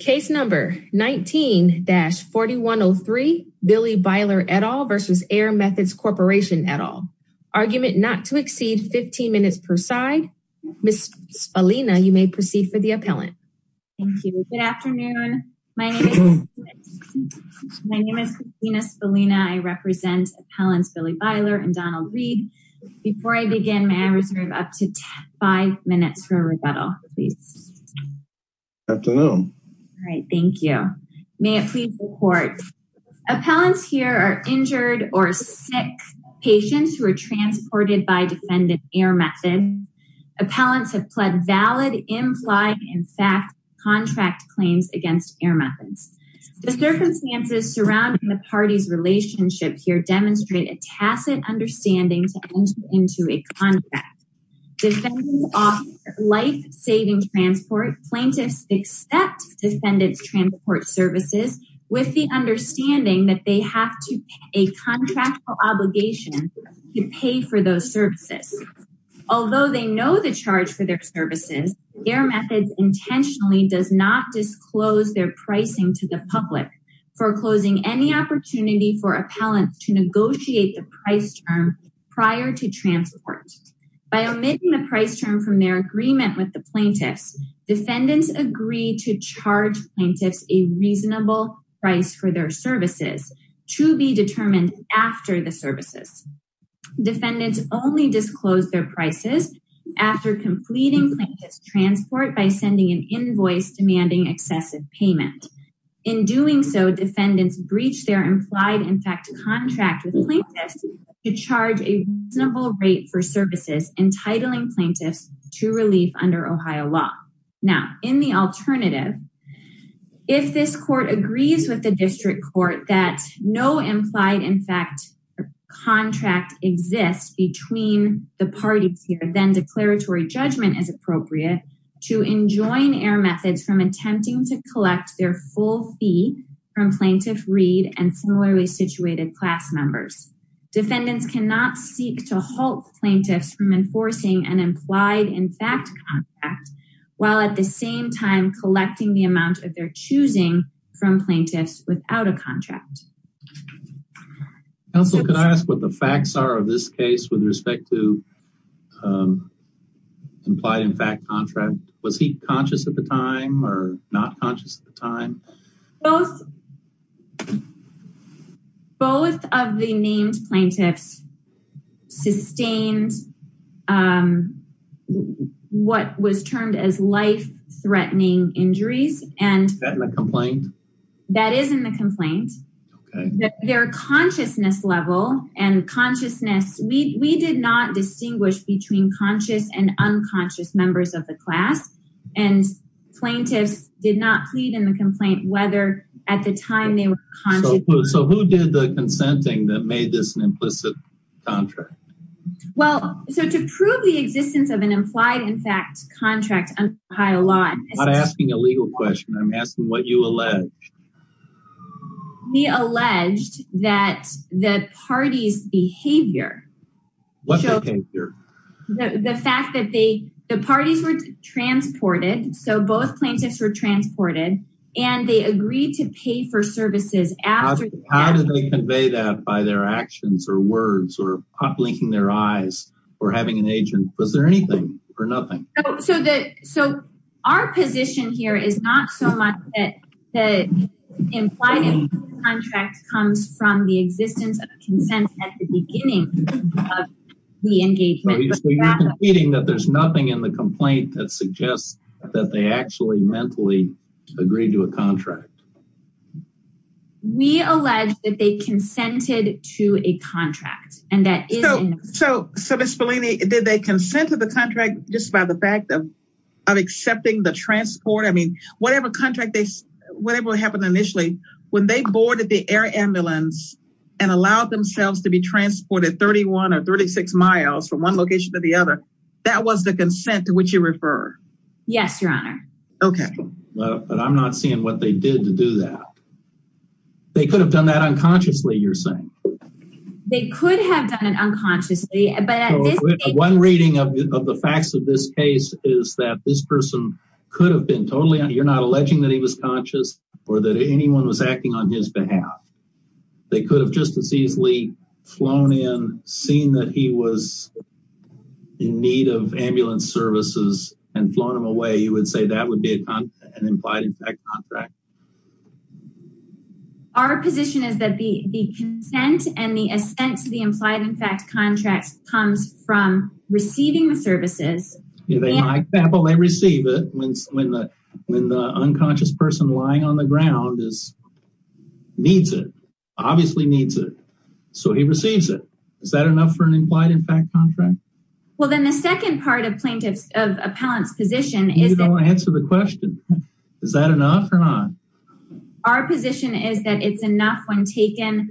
Case number 19-4103 Billy Byler et al versus Air Methods Corporation et al. Argument not to exceed 15 minutes per side. Ms. Spallina, you may proceed for the appellant. Thank you. Good afternoon. My name is My name is Katrina Spallina. I represent appellants Billy Byler and Donald Reed. Before I begin, may I reserve up to five minutes for a rebuttal, please? Good afternoon. All right, thank you. May it please the court. Appellants here are injured or sick patients who are transported by defendant Air Method. Appellants have pled valid, implied, in fact, contract claims against Air Methods. The circumstances surrounding the party's relationship here demonstrate a tacit understanding to enter into a contract. Defendants offer life-saving transport. Plaintiffs accept defendants' transport services with the understanding that they have a contractual obligation to pay for those services. Although they know the charge for their services, Air Methods intentionally does not disclose their pricing to the public, foreclosing any opportunity for appellants to negotiate the price term prior to transport. By omitting the price term from their agreement with the plaintiffs, defendants agree to charge plaintiffs a reasonable price for their services to be determined after the services. Defendants only disclose their prices after completing plaintiffs' transport by sending an invoice demanding excessive payment. In doing so, defendants breach their implied, in fact, contract with plaintiffs to charge a reasonable rate for services, entitling plaintiffs to relief under Ohio law. Now, in the alternative, if this court agrees with the district court that no implied, in fact, contract exists between the parties here, then declaratory judgment is appropriate to enjoin Air Methods from attempting to collect their full fee from plaintiff Reed and similarly situated class members. Defendants cannot seek to halt plaintiffs from enforcing an implied, in fact, contract while at the same time collecting the amount of their choosing from plaintiffs without a contract. Counsel, could I ask what the facts are of this case with respect to implied, in fact, contract? Was he conscious at the time or not conscious at the time? Both of the named plaintiffs sustained what was termed as life-threatening injuries. Is that in the complaint? That is in the complaint. Their consciousness level and consciousness, we did not distinguish between conscious and did not plead in the complaint whether at the time they were conscious. So who did the consenting that made this an implicit contract? Well, so to prove the existence of an implied, in fact, contract under Ohio law. I'm not asking a legal question. I'm asking what you allege. We alleged that the party's behavior. What behavior? The fact that the parties were transported. So both plaintiffs were transported and they agreed to pay for services after. How did they convey that by their actions or words or blinking their eyes or having an agent? Was there anything or nothing? So our position here is not so much that the implied contract comes from the existence of consent at the beginning of the engagement. So you're nothing in the complaint that suggests that they actually mentally agreed to a contract. We allege that they consented to a contract. So Ms. Spallini, did they consent to the contract just by the fact of accepting the transport? I mean, whatever contract, whatever happened initially, when they boarded the air ambulance and allowed themselves to be transported 31 or 36 miles from one location to the other, that was the consent to which you refer. Yes, Your Honor. Okay. But I'm not seeing what they did to do that. They could have done that unconsciously, you're saying. They could have done it unconsciously. But one reading of the facts of this case is that this person could have been totally, you're not alleging that he was conscious or that anyone was acting on his behalf. They could have just as easily flown in, seen that he was in need of ambulance services and flown him away. You would say that would be an implied in fact contract. Our position is that the consent and the assent to the implied in fact contracts comes from receiving the services. They receive it when the unconscious person lying on the ground needs it, obviously needs it. So he receives it. Is that enough for an implied in fact contract? Well, then the second part of plaintiff's, of appellant's position is... You don't answer the question. Is that enough or not? Our position is that it's enough when taken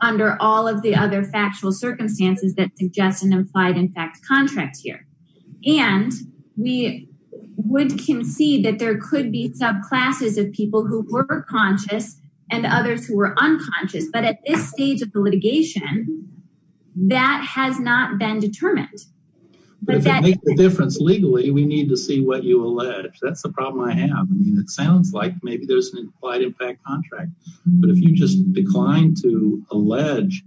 under all of the other factual circumstances that suggest an implied in fact contract here. And we would concede that there could be subclasses of people who were conscious and others who were unconscious. But at this stage of the litigation, that has not been determined. But if it makes a difference legally, we need to see what you allege. That's the problem I have. I mean, it sounds like maybe there's an implied in fact contract. But if you just decline to allege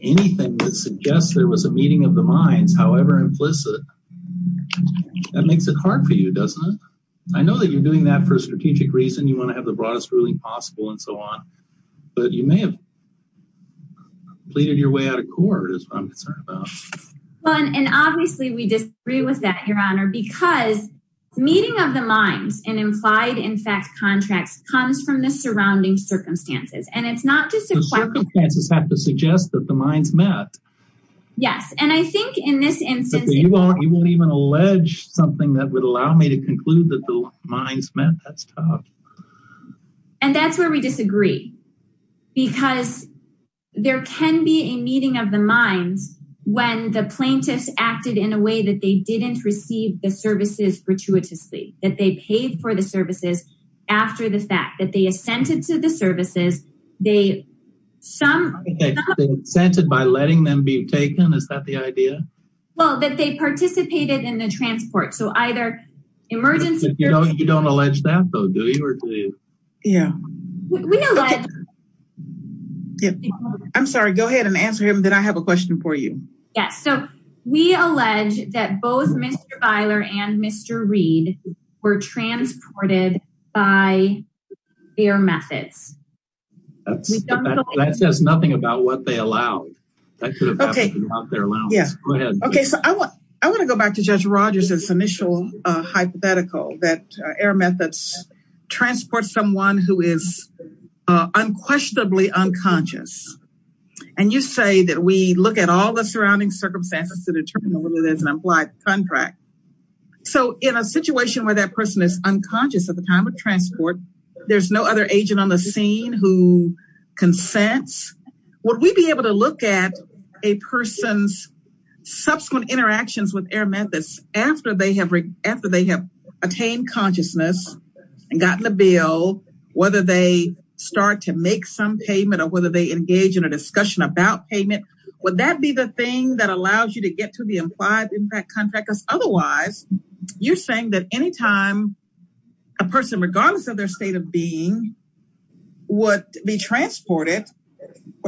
anything that suggests there was a meeting of the minds, however implicit, that makes it hard for you, doesn't it? I know that you're doing that for a strategic reason. You want to have the broadest ruling possible and so on. But you may have pleaded your way out of court is what I'm concerned about. Well, and obviously we disagree with that, Your Honor, because meeting of the minds and implied in fact contracts comes from the surrounding circumstances. And it's not just... The circumstances have to suggest that the minds met. Yes. And I think in this instance... You won't even allege something that would allow me to conclude that the minds met. That's tough. And that's where we disagree. Because there can be a meeting of the minds when the plaintiffs acted in a way that they didn't receive the services gratuitously. That they paid for the services after the fact. That they assented to the services. They some... Assented by letting them be taken? Is that the idea? Well, that they participated in the transport. So either emergency... But you don't allege that though, do you? Yeah. I'm sorry. Go ahead and answer him. Then I have a question for you. Yes. So we allege that both Mr. Byler and Mr. Reid were transported by their methods. That says nothing about what they allowed. That could have happened without their allowance. Go ahead. Okay. So I want to go back to Judge Rogers' initial hypothetical that air methods transport someone who is unquestionably unconscious. And you say that we look at all the surrounding circumstances to determine whether there's an implied contract. So in a situation where that person is unconscious at the time of transport, there's no other agent on the scene who consents. Would we be able to look at a person's subsequent interactions with air methods after they have attained consciousness and gotten the bill, whether they start to make some payment or whether they engage in a discussion about payment? Would that be the thing that allows you to get to the implied impact contractors? Otherwise, you're saying that anytime a person, regardless of their state of being, would be transported,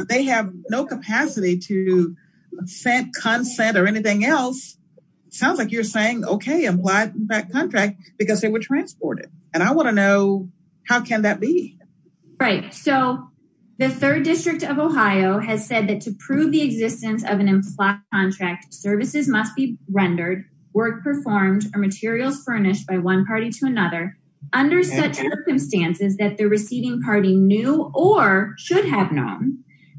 they have no capacity to consent or anything else. Sounds like you're saying, okay, implied contract because they were transported. And I want to know, how can that be? Right. So the third district of Ohio has said that to prove the existence of an implied contract, services must be rendered, work performed, or materials furnished by one party to another under such circumstances that the receiving party knew or should have known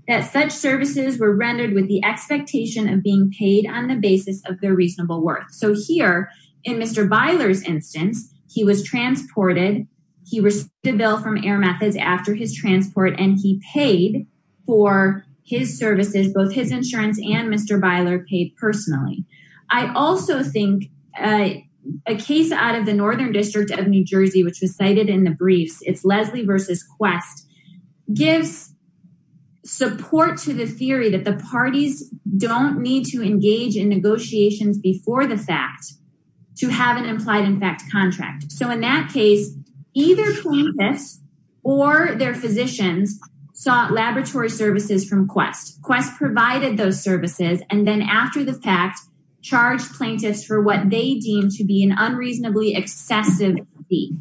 that such services were rendered with the expectation of being paid on the basis of their reasonable worth. So here in Mr. Byler's instance, he was transported. He received the bill from air methods after his transport, and he paid for his services, both his insurance and Mr. Byler paid personally. I also think a case out of the Northern district of New Jersey, which was cited in the briefs, it's Leslie versus Quest, gives support to the theory that the parties don't need to engage in negotiations before the fact to have an implied impact contract. So in that case, either plaintiffs or their physicians sought laboratory services from and then after the fact charged plaintiffs for what they deemed to be an unreasonably excessive fee.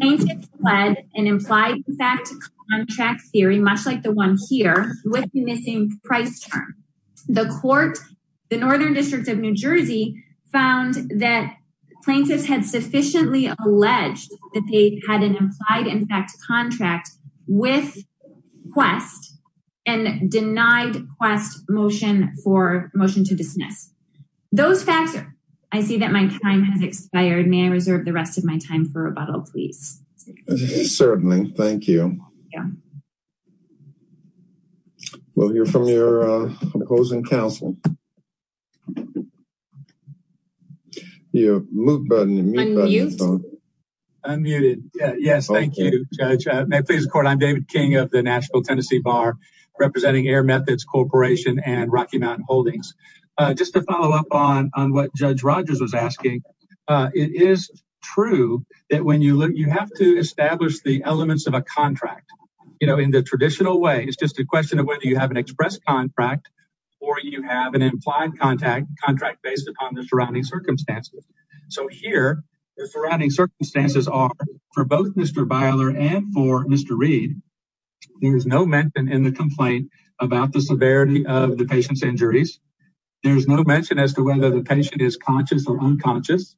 Plaintiffs fled an implied impact contract theory, much like the one here, with the missing price term. The court, the Northern district of New Jersey, found that plaintiffs had sufficiently alleged that they had an implied impact contract with Quest and denied Quest motion for motion to dismiss. Those facts, I see that my time has expired. May I reserve the rest of my time for rebuttal, please? Certainly. Thank you. We'll hear from your opposing counsel. Your mute button. Unmute. Unmuted. Yes. Thank you, Judge. May it please the court. I'm David Corporation and Rocky Mountain Holdings. Just to follow up on what Judge Rogers was asking. It is true that when you look, you have to establish the elements of a contract, you know, in the traditional way. It's just a question of whether you have an express contract or you have an implied contact contract based upon the surrounding circumstances. So here, the surrounding circumstances are for both Mr. Byler and for Mr. Reed. There's no mention in the complaint about the severity of the patient's injuries. There's no mention as to whether the patient is conscious or unconscious.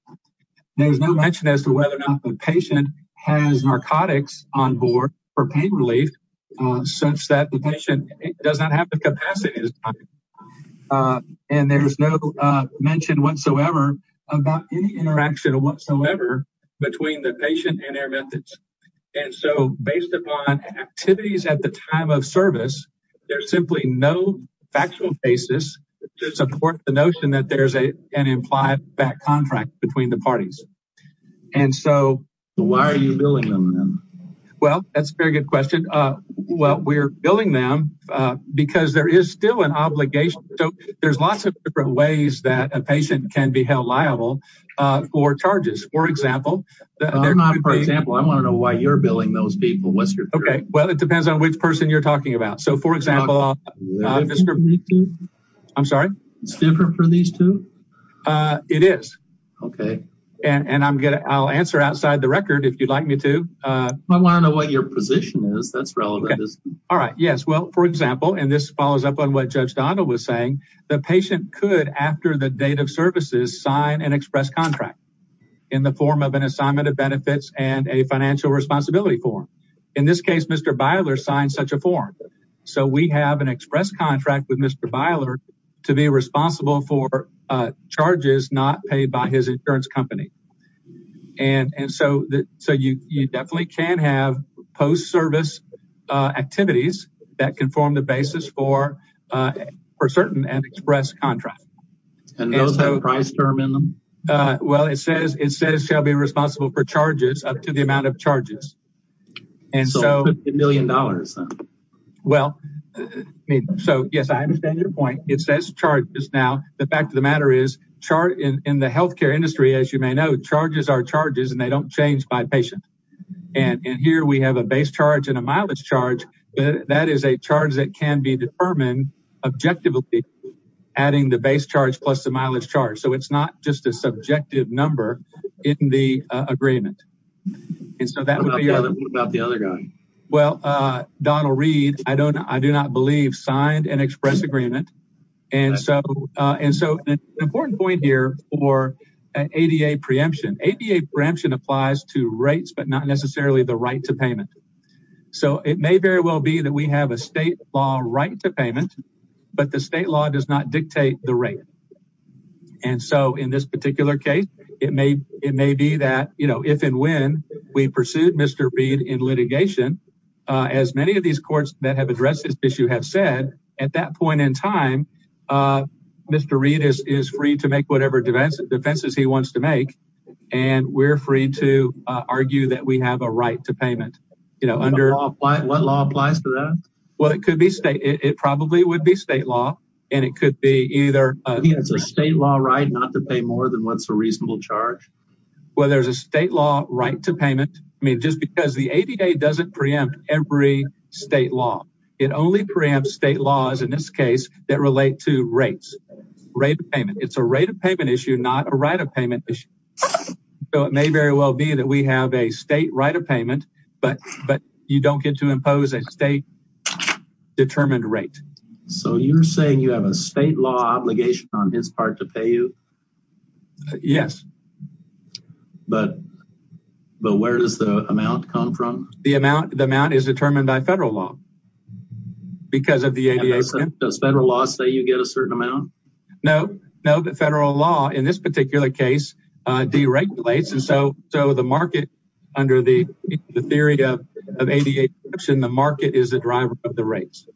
There's no mention as to whether or not the patient has narcotics on board for pain relief, such that the patient does not have the capacity. And there's no mention whatsoever about any interaction whatsoever between the patient and their methods. And so based upon activities at the time of service, there's simply no factual basis to support the notion that there's an implied contract between the parties. And so why are you billing them? Well, that's a very good question. Well, we're billing them because there is still an obligation. So there's lots of different ways that a patient can be held liable for charges. For example, for example, I want to know why you're billing those people. What's your okay. Well, it depends on which person you're talking about. So for example, I'm sorry, it's different for these two. It is. Okay. And I'm gonna I'll answer outside the record if you'd like me to. I want to know what your position is. That's relevant. All right. Yes. Well, for example, and this follows up on what Judge Donald was saying, the patient could after the date of services sign an express contract in the form of an assignment of benefits and a financial responsibility form. In this case, Mr. Byler signed such a form. So we have an express contract with Mr. Byler to be responsible for charges not paid by his insurance company. And so you definitely can have post service activities that can form the basis for for certain and express contract. And those have a price term in them. Well, it says it says shall be responsible for charges up to the amount of charges. And so a million dollars. Well, so yes, I understand your point. It says charges. Now, the fact of the matter is chart in the health care industry, as you may know, charges are charges and they don't change by patient. And here we have a base charge and mileage charge. That is a charge that can be determined objectively, adding the base charge plus the mileage charge. So it's not just a subjective number in the agreement. And so that would be about the other guy. Well, Donald Reed, I don't I do not believe signed an express agreement. And so and so an important point here for ADA preemption, ADA preemption applies to payment. So it may very well be that we have a state law right to payment, but the state law does not dictate the rate. And so in this particular case, it may it may be that, you know, if and when we pursued Mr. Reed in litigation, as many of these courts that have addressed this issue have said at that point in time, Mr. Reed is free to make whatever defense defenses he wants to make. And we're free to argue that we have a right to payment, you know, under what law applies to that. Well, it could be state. It probably would be state law. And it could be either a state law right not to pay more than what's a reasonable charge. Well, there's a state law right to payment. I mean, just because the ADA doesn't preempt every state law, it only preempts state laws in this that relate to rates, rate of payment. It's a rate of payment issue, not a right of payment issue. So it may very well be that we have a state right of payment, but you don't get to impose a state determined rate. So you're saying you have a state law obligation on his part to pay you? Yes. But where does the amount come from? The amount is determined by federal law because of the ADA. Does federal law say you get a certain amount? No, no, the federal law in this particular case deregulates. And so, so the market under the theory of ADA, the market is the driver of the rates.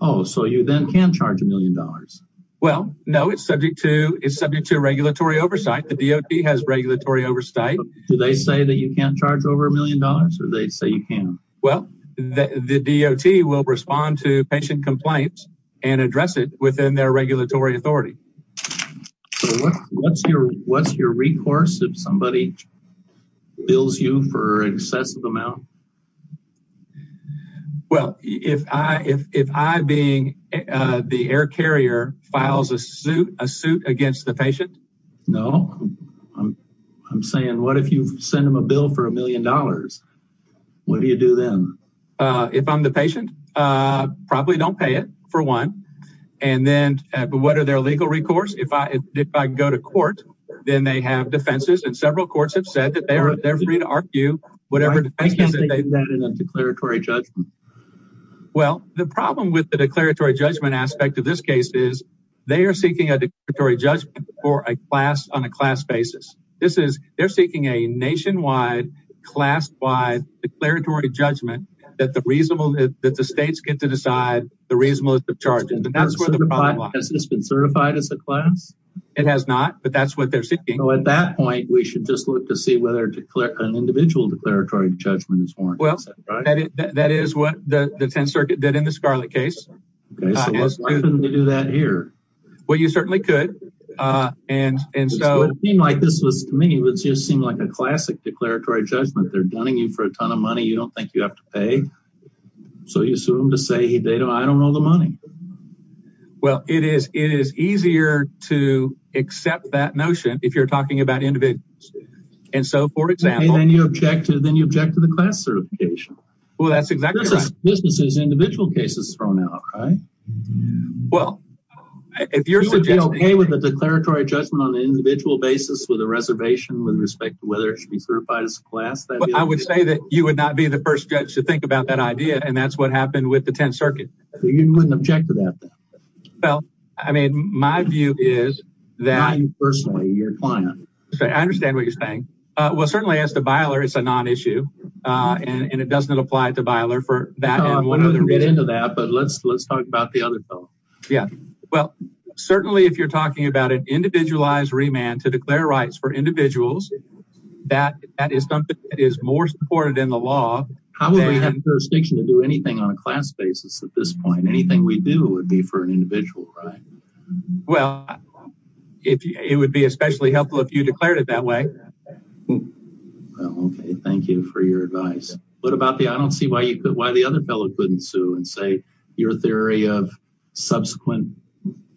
Oh, so you then can charge a million dollars? Well, no, it's subject to, it's subject to regulatory oversight. The DOT has regulatory oversight. Do they say that you can't charge over a million dollars or they say you can? Well, the DOT will respond to patient complaints and address it within their regulatory authority. So what's your, what's your recourse if somebody bills you for excessive amount? Well, if I, if, if I being the air carrier files a suit, a suit against the What do you do then? Uh, if I'm the patient, uh, probably don't pay it for one. And then, but what are their legal recourse? If I, if I go to court, then they have defenses and several courts have said that they're, they're free to argue whatever defense is in a declaratory judgment. Well, the problem with the declaratory judgment aspect of this case is they are seeking a declaratory judgment that the reasonable, that the states get to decide the reasonableness of charges. Has this been certified as a class? It has not, but that's what they're seeking. So at that point, we should just look to see whether an individual declaratory judgment is warranted. Well, that is what the 10th circuit did in the Scarlet case. Okay, so why couldn't they do that here? Well, you certainly could. Uh, and, and so it seemed like this was to me, it just seemed like a classic declaratory judgment. They're dunning you for a ton of money. You don't think you have to pay. So you assume to say, Hey, they don't, I don't know the money. Well, it is, it is easier to accept that notion if you're talking about individuals. And so for example, then you object to, then you object to the class certification. Well, that's exactly right. Businesses, individual cases thrown out, right? Well, if you're okay with the declaratory judgment on an individual basis with a reservation, whether it should be certified as a class. I would say that you would not be the first judge to think about that idea. And that's what happened with the 10th circuit. You wouldn't object to that. Well, I mean, my view is that I'm personally your client. So I understand what you're saying. Uh, well certainly as to Byler, it's a non-issue, uh, and it doesn't apply to Byler for that. But let's, let's talk about the other bill. Yeah. Well, certainly if you're talking about an individualized remand to declare rights for individuals, that, that is something that is more supported in the law. How would we have the jurisdiction to do anything on a class basis at this point? Anything we do would be for an individual, right? Well, if it would be especially helpful if you declared it that way. Well, okay. Thank you for your advice. What about the, I don't see why you could, why the other fellow couldn't sue and say your theory of subsequent,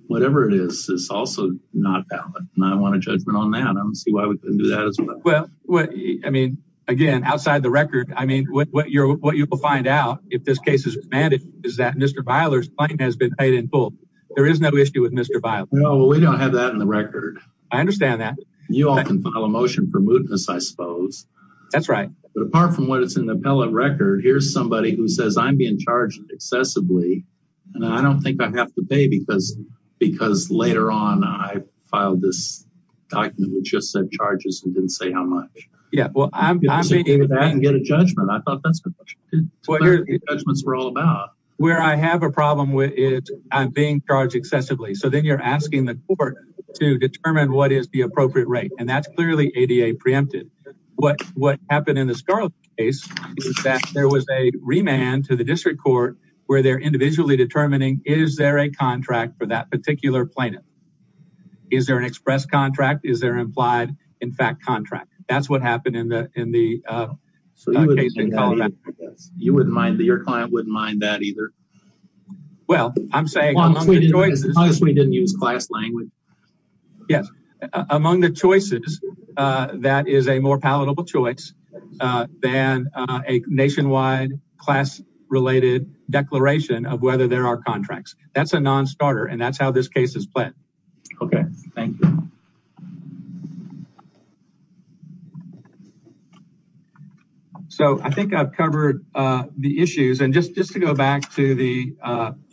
whatever it is, is also not valid. And I want a judgment on that. I don't see why we couldn't do that as well. Well, I mean, again, outside the record, I mean, what you're, what you will find out if this case is remanded is that Mr. Byler's claim has been paid in full. There is no issue with Mr. Byler. No, we don't have that in the record. I understand that. You all can file a motion for mootness, I suppose. That's right. But apart from what it's in the appellate record, here's somebody who says I'm being charged excessively. And I don't think I have to pay because later on, I filed this document which just said charges and didn't say how much. Yeah, well, I'm... You can get a judgment. I thought that's what judgments were all about. Where I have a problem with it, I'm being charged excessively. So then you're asking the court to determine what is the appropriate rate. And that's clearly ADA preempted. What happened in the Scarlet case is that there was a remand to the district court where they're individually determining, is there a contract for that particular plaintiff? Is there an express contract? Is there implied, in fact, contract? That's what happened in the case in Colorado. You wouldn't mind, your client wouldn't mind that either. Well, I'm saying... As long as we didn't use class language. Yes, among the choices, that is a more palatable choice than a nationwide class-related declaration of whether there are contracts. That's a non-starter and that's how this case is played. Okay, thank you. So I think I've covered the issues. And just to go back to the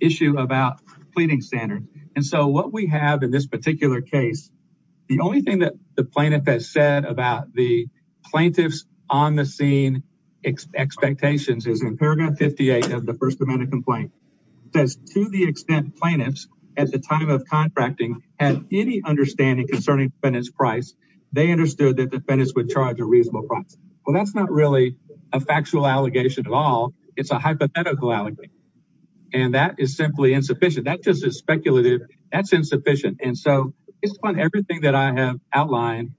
issue about pleading standard. And so what we have in this particular case, the only thing that the plaintiff has said about the plaintiff's on-the-scene expectations is in paragraph 58 of the First Amendment complaint, it says, to the extent plaintiffs at the time of contracting had any understanding concerning defendant's price, they understood that defendants would charge a reasonable price. Well, that's not really a factual allegation at all. It's a hypothetical allegation. And that is simply insufficient. That just is speculative. That's insufficient. And so it's on everything that I have outlined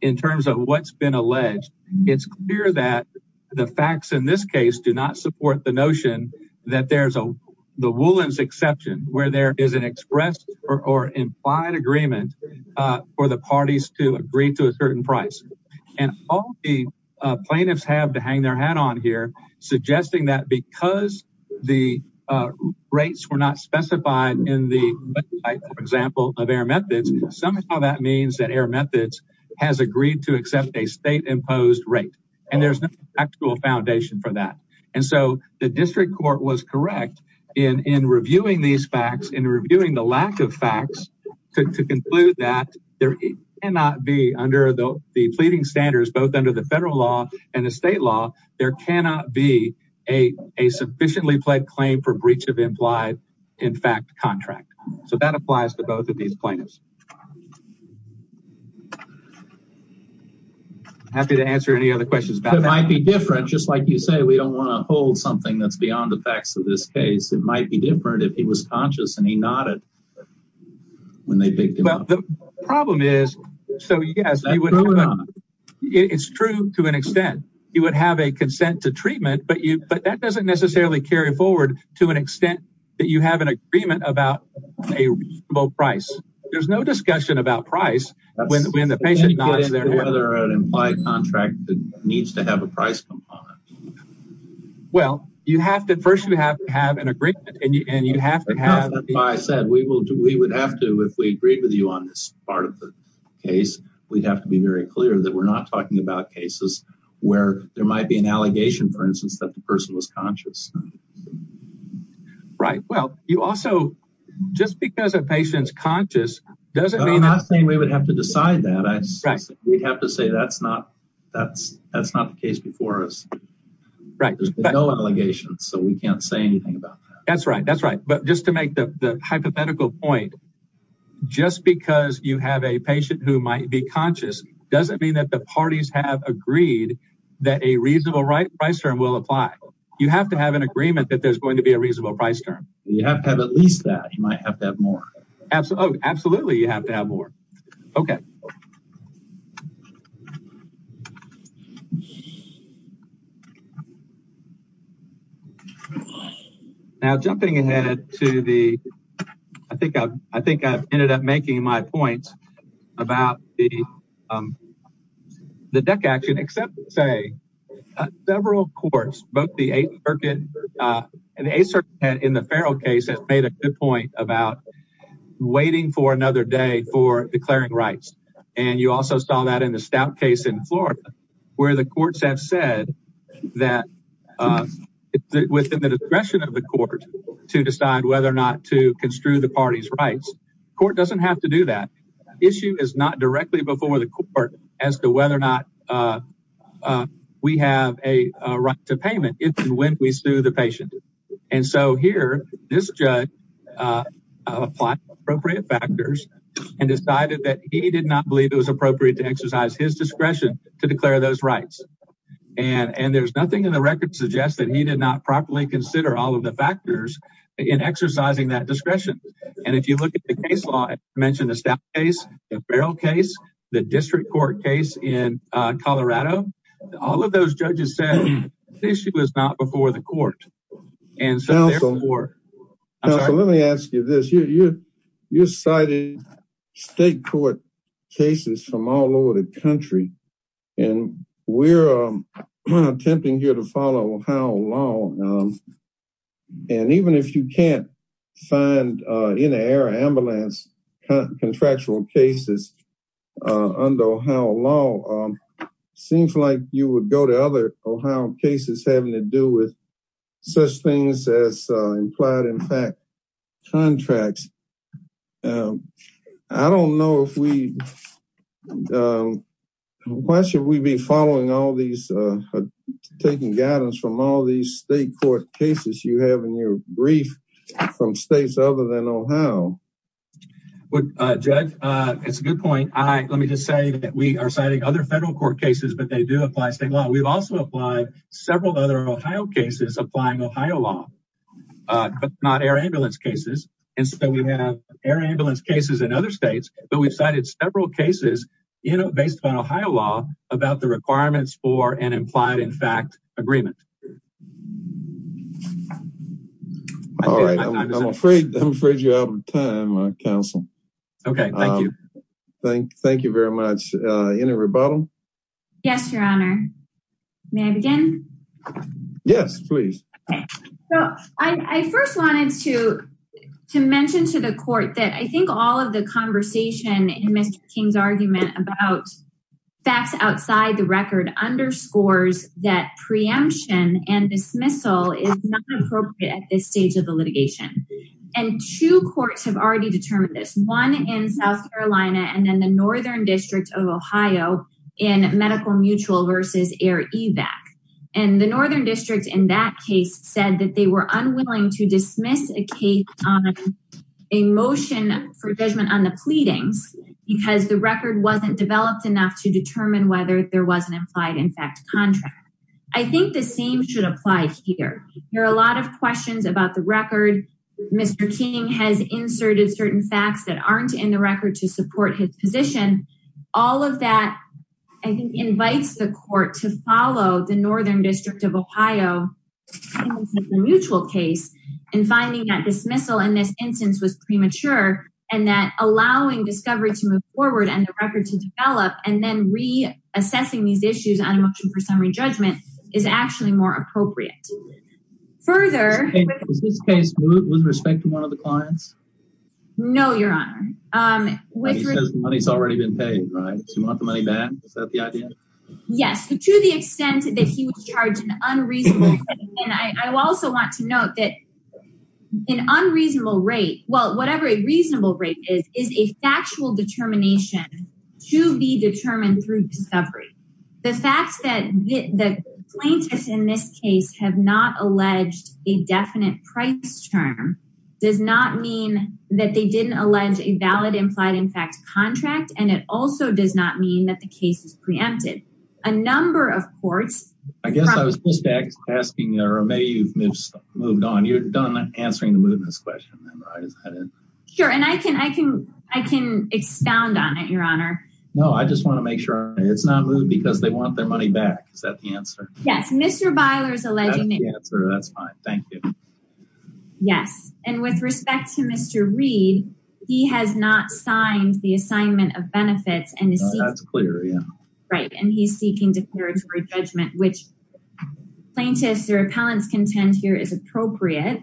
in terms of what's been alleged. It's clear that the facts in this case do not support the notion that there's a the Woolens exception where there is an express or implied agreement for the parties to agree to a certain price. And all the plaintiffs have to hang their hat on here, suggesting that because the rates were not specified in the example of Air Methods, somehow that means that Air Methods has agreed to accept a state-imposed rate. And there's no actual foundation for that. And so the district court was correct in reviewing these facts, in reviewing the lack of facts to conclude that there cannot be under the pleading standards, both under the federal law and the state law, there cannot be a sufficiently pled claim for breach of implied, in fact, contract. So that applies to both of these plaintiffs. I'm happy to answer any other questions. It might be different. Just like you say, we don't want to hold something that's beyond the facts of this case. It might be different if he was conscious and he nodded. The problem is, so yes, it's true to an extent. You would have a consent to treatment, but that doesn't necessarily carry forward to an extent that you have an agreement about a reasonable price. There's no discussion about price when the patient nods their head. Whether an implied contract needs to have a price component. Well, you have to, first you have to have an agreement and you have to have. I said we would have to, if we agreed with you on this part of the case, we'd have to be very clear that we're not talking about cases where there might be an allegation, for instance, that the person was conscious. Right. Well, you also, just because a patient's conscious doesn't mean. I'm not saying we would have to decide that. I would have to say that's not the case before us. Right. There's been no allegations, so we can't say anything about that. That's right. That's right. But just to make the hypothetical point, just because you have a patient who might be conscious doesn't mean that the parties have agreed that a reasonable price term will apply. You have to have an agreement that there's going to be a reasonable price term. You have to have at least that. You might have to have more. Absolutely. You have to have more. Okay. Now, jumping ahead to the, I think I've, I think I've ended up making my point about the DEC action, except to say several courts, both the Eighth Circuit and the Eighth Circuit in the Farrell case, have made a good point about waiting for another day for declaring rights. And you also saw that in the Stout case in Florida, where the courts have said that within the discretion of the court to decide whether or not to construe the party's rights. Court doesn't have to do that. Issue is not directly before the court as to whether or not we have a right to payment. It's when we sue the patient. And so here, this judge applied appropriate factors and decided that he did not believe it was appropriate to exercise his discretion to declare those rights. And, and there's nothing in the record suggests that he did not properly consider all of the factors in exercising that discretion. And if you look at the case law, I mentioned the Stout case, the Farrell case, the district court case in Colorado, all of those judges said this issue was not before the court. And so therefore... Counselor, let me ask you this. You cited state court cases from all over the country, and we're attempting here to follow Ohio law. And even if you can't find in-air ambulance contractual cases under Ohio law, seems like you would go to other Ohio cases having to do with such things as implied impact contracts. I don't know if we, why should we be following all these, taking guidance from all these state court cases you have in your brief from states other than Ohio? Judge, it's a good point. Let me just say that we are citing other federal court cases, but they do apply state law. We've also applied several other Ohio cases applying Ohio law, but not air ambulance cases. And so we have air ambulance cases in other states, but we've cited several cases, you know, based on Ohio law about the requirements for an implied impact agreement. All right, I'm afraid, I'm afraid you're out of time, Counsel. Okay, thank you. Thank you very much. Any rebuttal? Yes, Your Honor. May I begin? Yes, please. So I first wanted to mention to the court that I think all of the conversation in Mr. King's argument about facts outside the record underscores that preemption and dismissal is not appropriate at this stage of the litigation. And two courts have already determined this. One in South Carolina and then the Northern District of Ohio in medical mutual versus air evac. And the Northern District in that case said that they were unwilling to dismiss a case on a motion for judgment on the pleadings because the record wasn't developed enough to determine whether there was an implied impact contract. I think the same should apply here. There are a lot of questions about the record. Mr. King has inserted certain facts that aren't in the record to support his position. All of that I think invites the court to follow the Northern District of Ohio mutual case and finding that dismissal in this instance was premature and that allowing discovery to move forward and the record to develop and then reassessing these issues on a motion for summary judgment is actually more appropriate. Further... Is this case moot with respect to one of the clients? No, your honor. He says the money's already been paid, right? Does he want the money back? Is that the idea? Yes, to the extent that he would charge an unreasonable rate. And I also want to note that an unreasonable rate, well, whatever a reasonable rate is, is a factual determination to be determined through discovery. The fact that the plaintiffs in this case have not alleged a definite price term does not mean that they didn't allege a valid implied impact contract. And it also does not mean that the case is preempted. A number of courts... I guess I was just asking, or maybe you've moved on. You're done answering the mootness question. Sure, and I can expound on it, your honor. No, I just want to make sure it's not moot because they want their money back. Is that the answer? Yes, Mr. Byler's alleging... That's the answer, that's fine, thank you. Yes, and with respect to Mr. Reed, he has not signed the assignment of benefits. No, that's clear, yeah. Right, and he's seeking declaratory judgment, which plaintiffs or appellants contend here is appropriate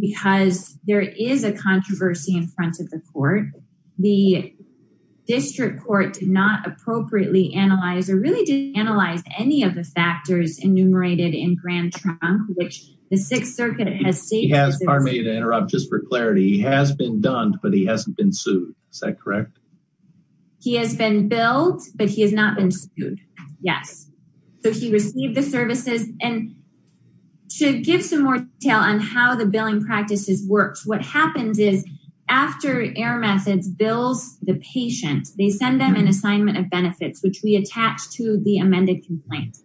because there is a controversy in front of the court. The district court did not appropriately analyze or really did analyze any of the factors enumerated in Grand Trunk, which the Sixth Circuit has stated... He has, pardon me to interrupt, just for clarity. He has been done, but he hasn't been sued. Is that correct? He has been billed, but he has not been sued, yes. So he received the services. And to give some more detail on how the billing practices worked, what happens is after Air Methods bills the patient, they send them an assignment of benefits, which we attach to the amended complaint.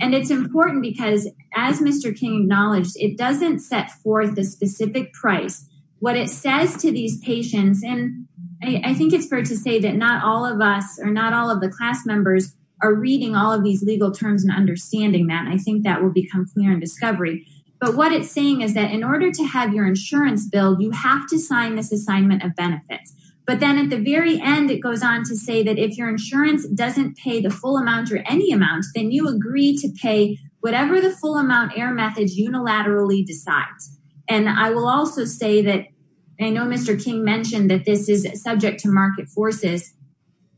And it's important because, as Mr. King acknowledged, it doesn't set forth the specific price. What it says to these patients, and I think it's fair to say that not all of us or not all of the class members are reading all of these legal terms and understanding that. I think that will become clear in discovery. But what it's saying is that in order to have your insurance bill, you have to sign this assignment of benefits. But then at the very end, it goes on to say that if your insurance doesn't pay the full amount or any amount, then you agree to pay whatever the full amount Air Methods unilaterally decides. And I will also say that I know Mr. King mentioned that this is subject to market forces.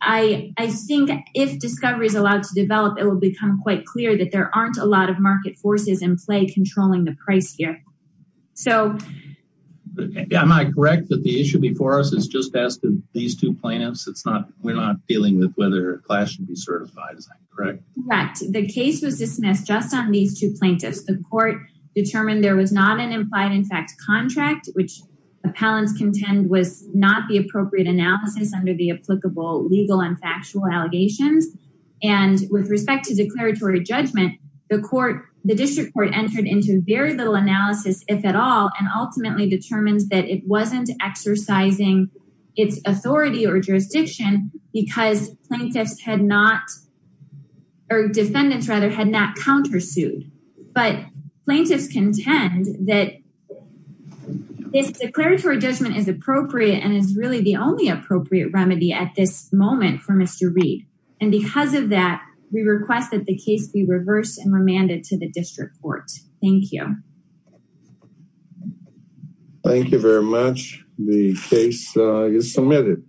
I think if discovery is allowed to develop, it will become quite clear that there aren't a lot of market forces in play controlling the price here. So... Am I correct that the issue before us is just asking these two plaintiffs? We're not dealing with whether a class should be certified, is that correct? Correct. The case was dismissed just on these two plaintiffs. The court determined there was not an implied-in-fact contract, which appellants contend was not the appropriate analysis under the applicable legal and factual allegations. And with respect to declaratory judgment, the district court entered into very little analysis, if at all, and ultimately determines that it wasn't exercising its authority or jurisdiction because plaintiffs had not, or defendants rather, had not countersued. But plaintiffs contend that this declaratory judgment is appropriate and is really the only appropriate remedy at this moment for Mr. Reed. And because of that, we request that the case be reversed and remanded to the district court. Thank you. Thank you very much. The case is submitted.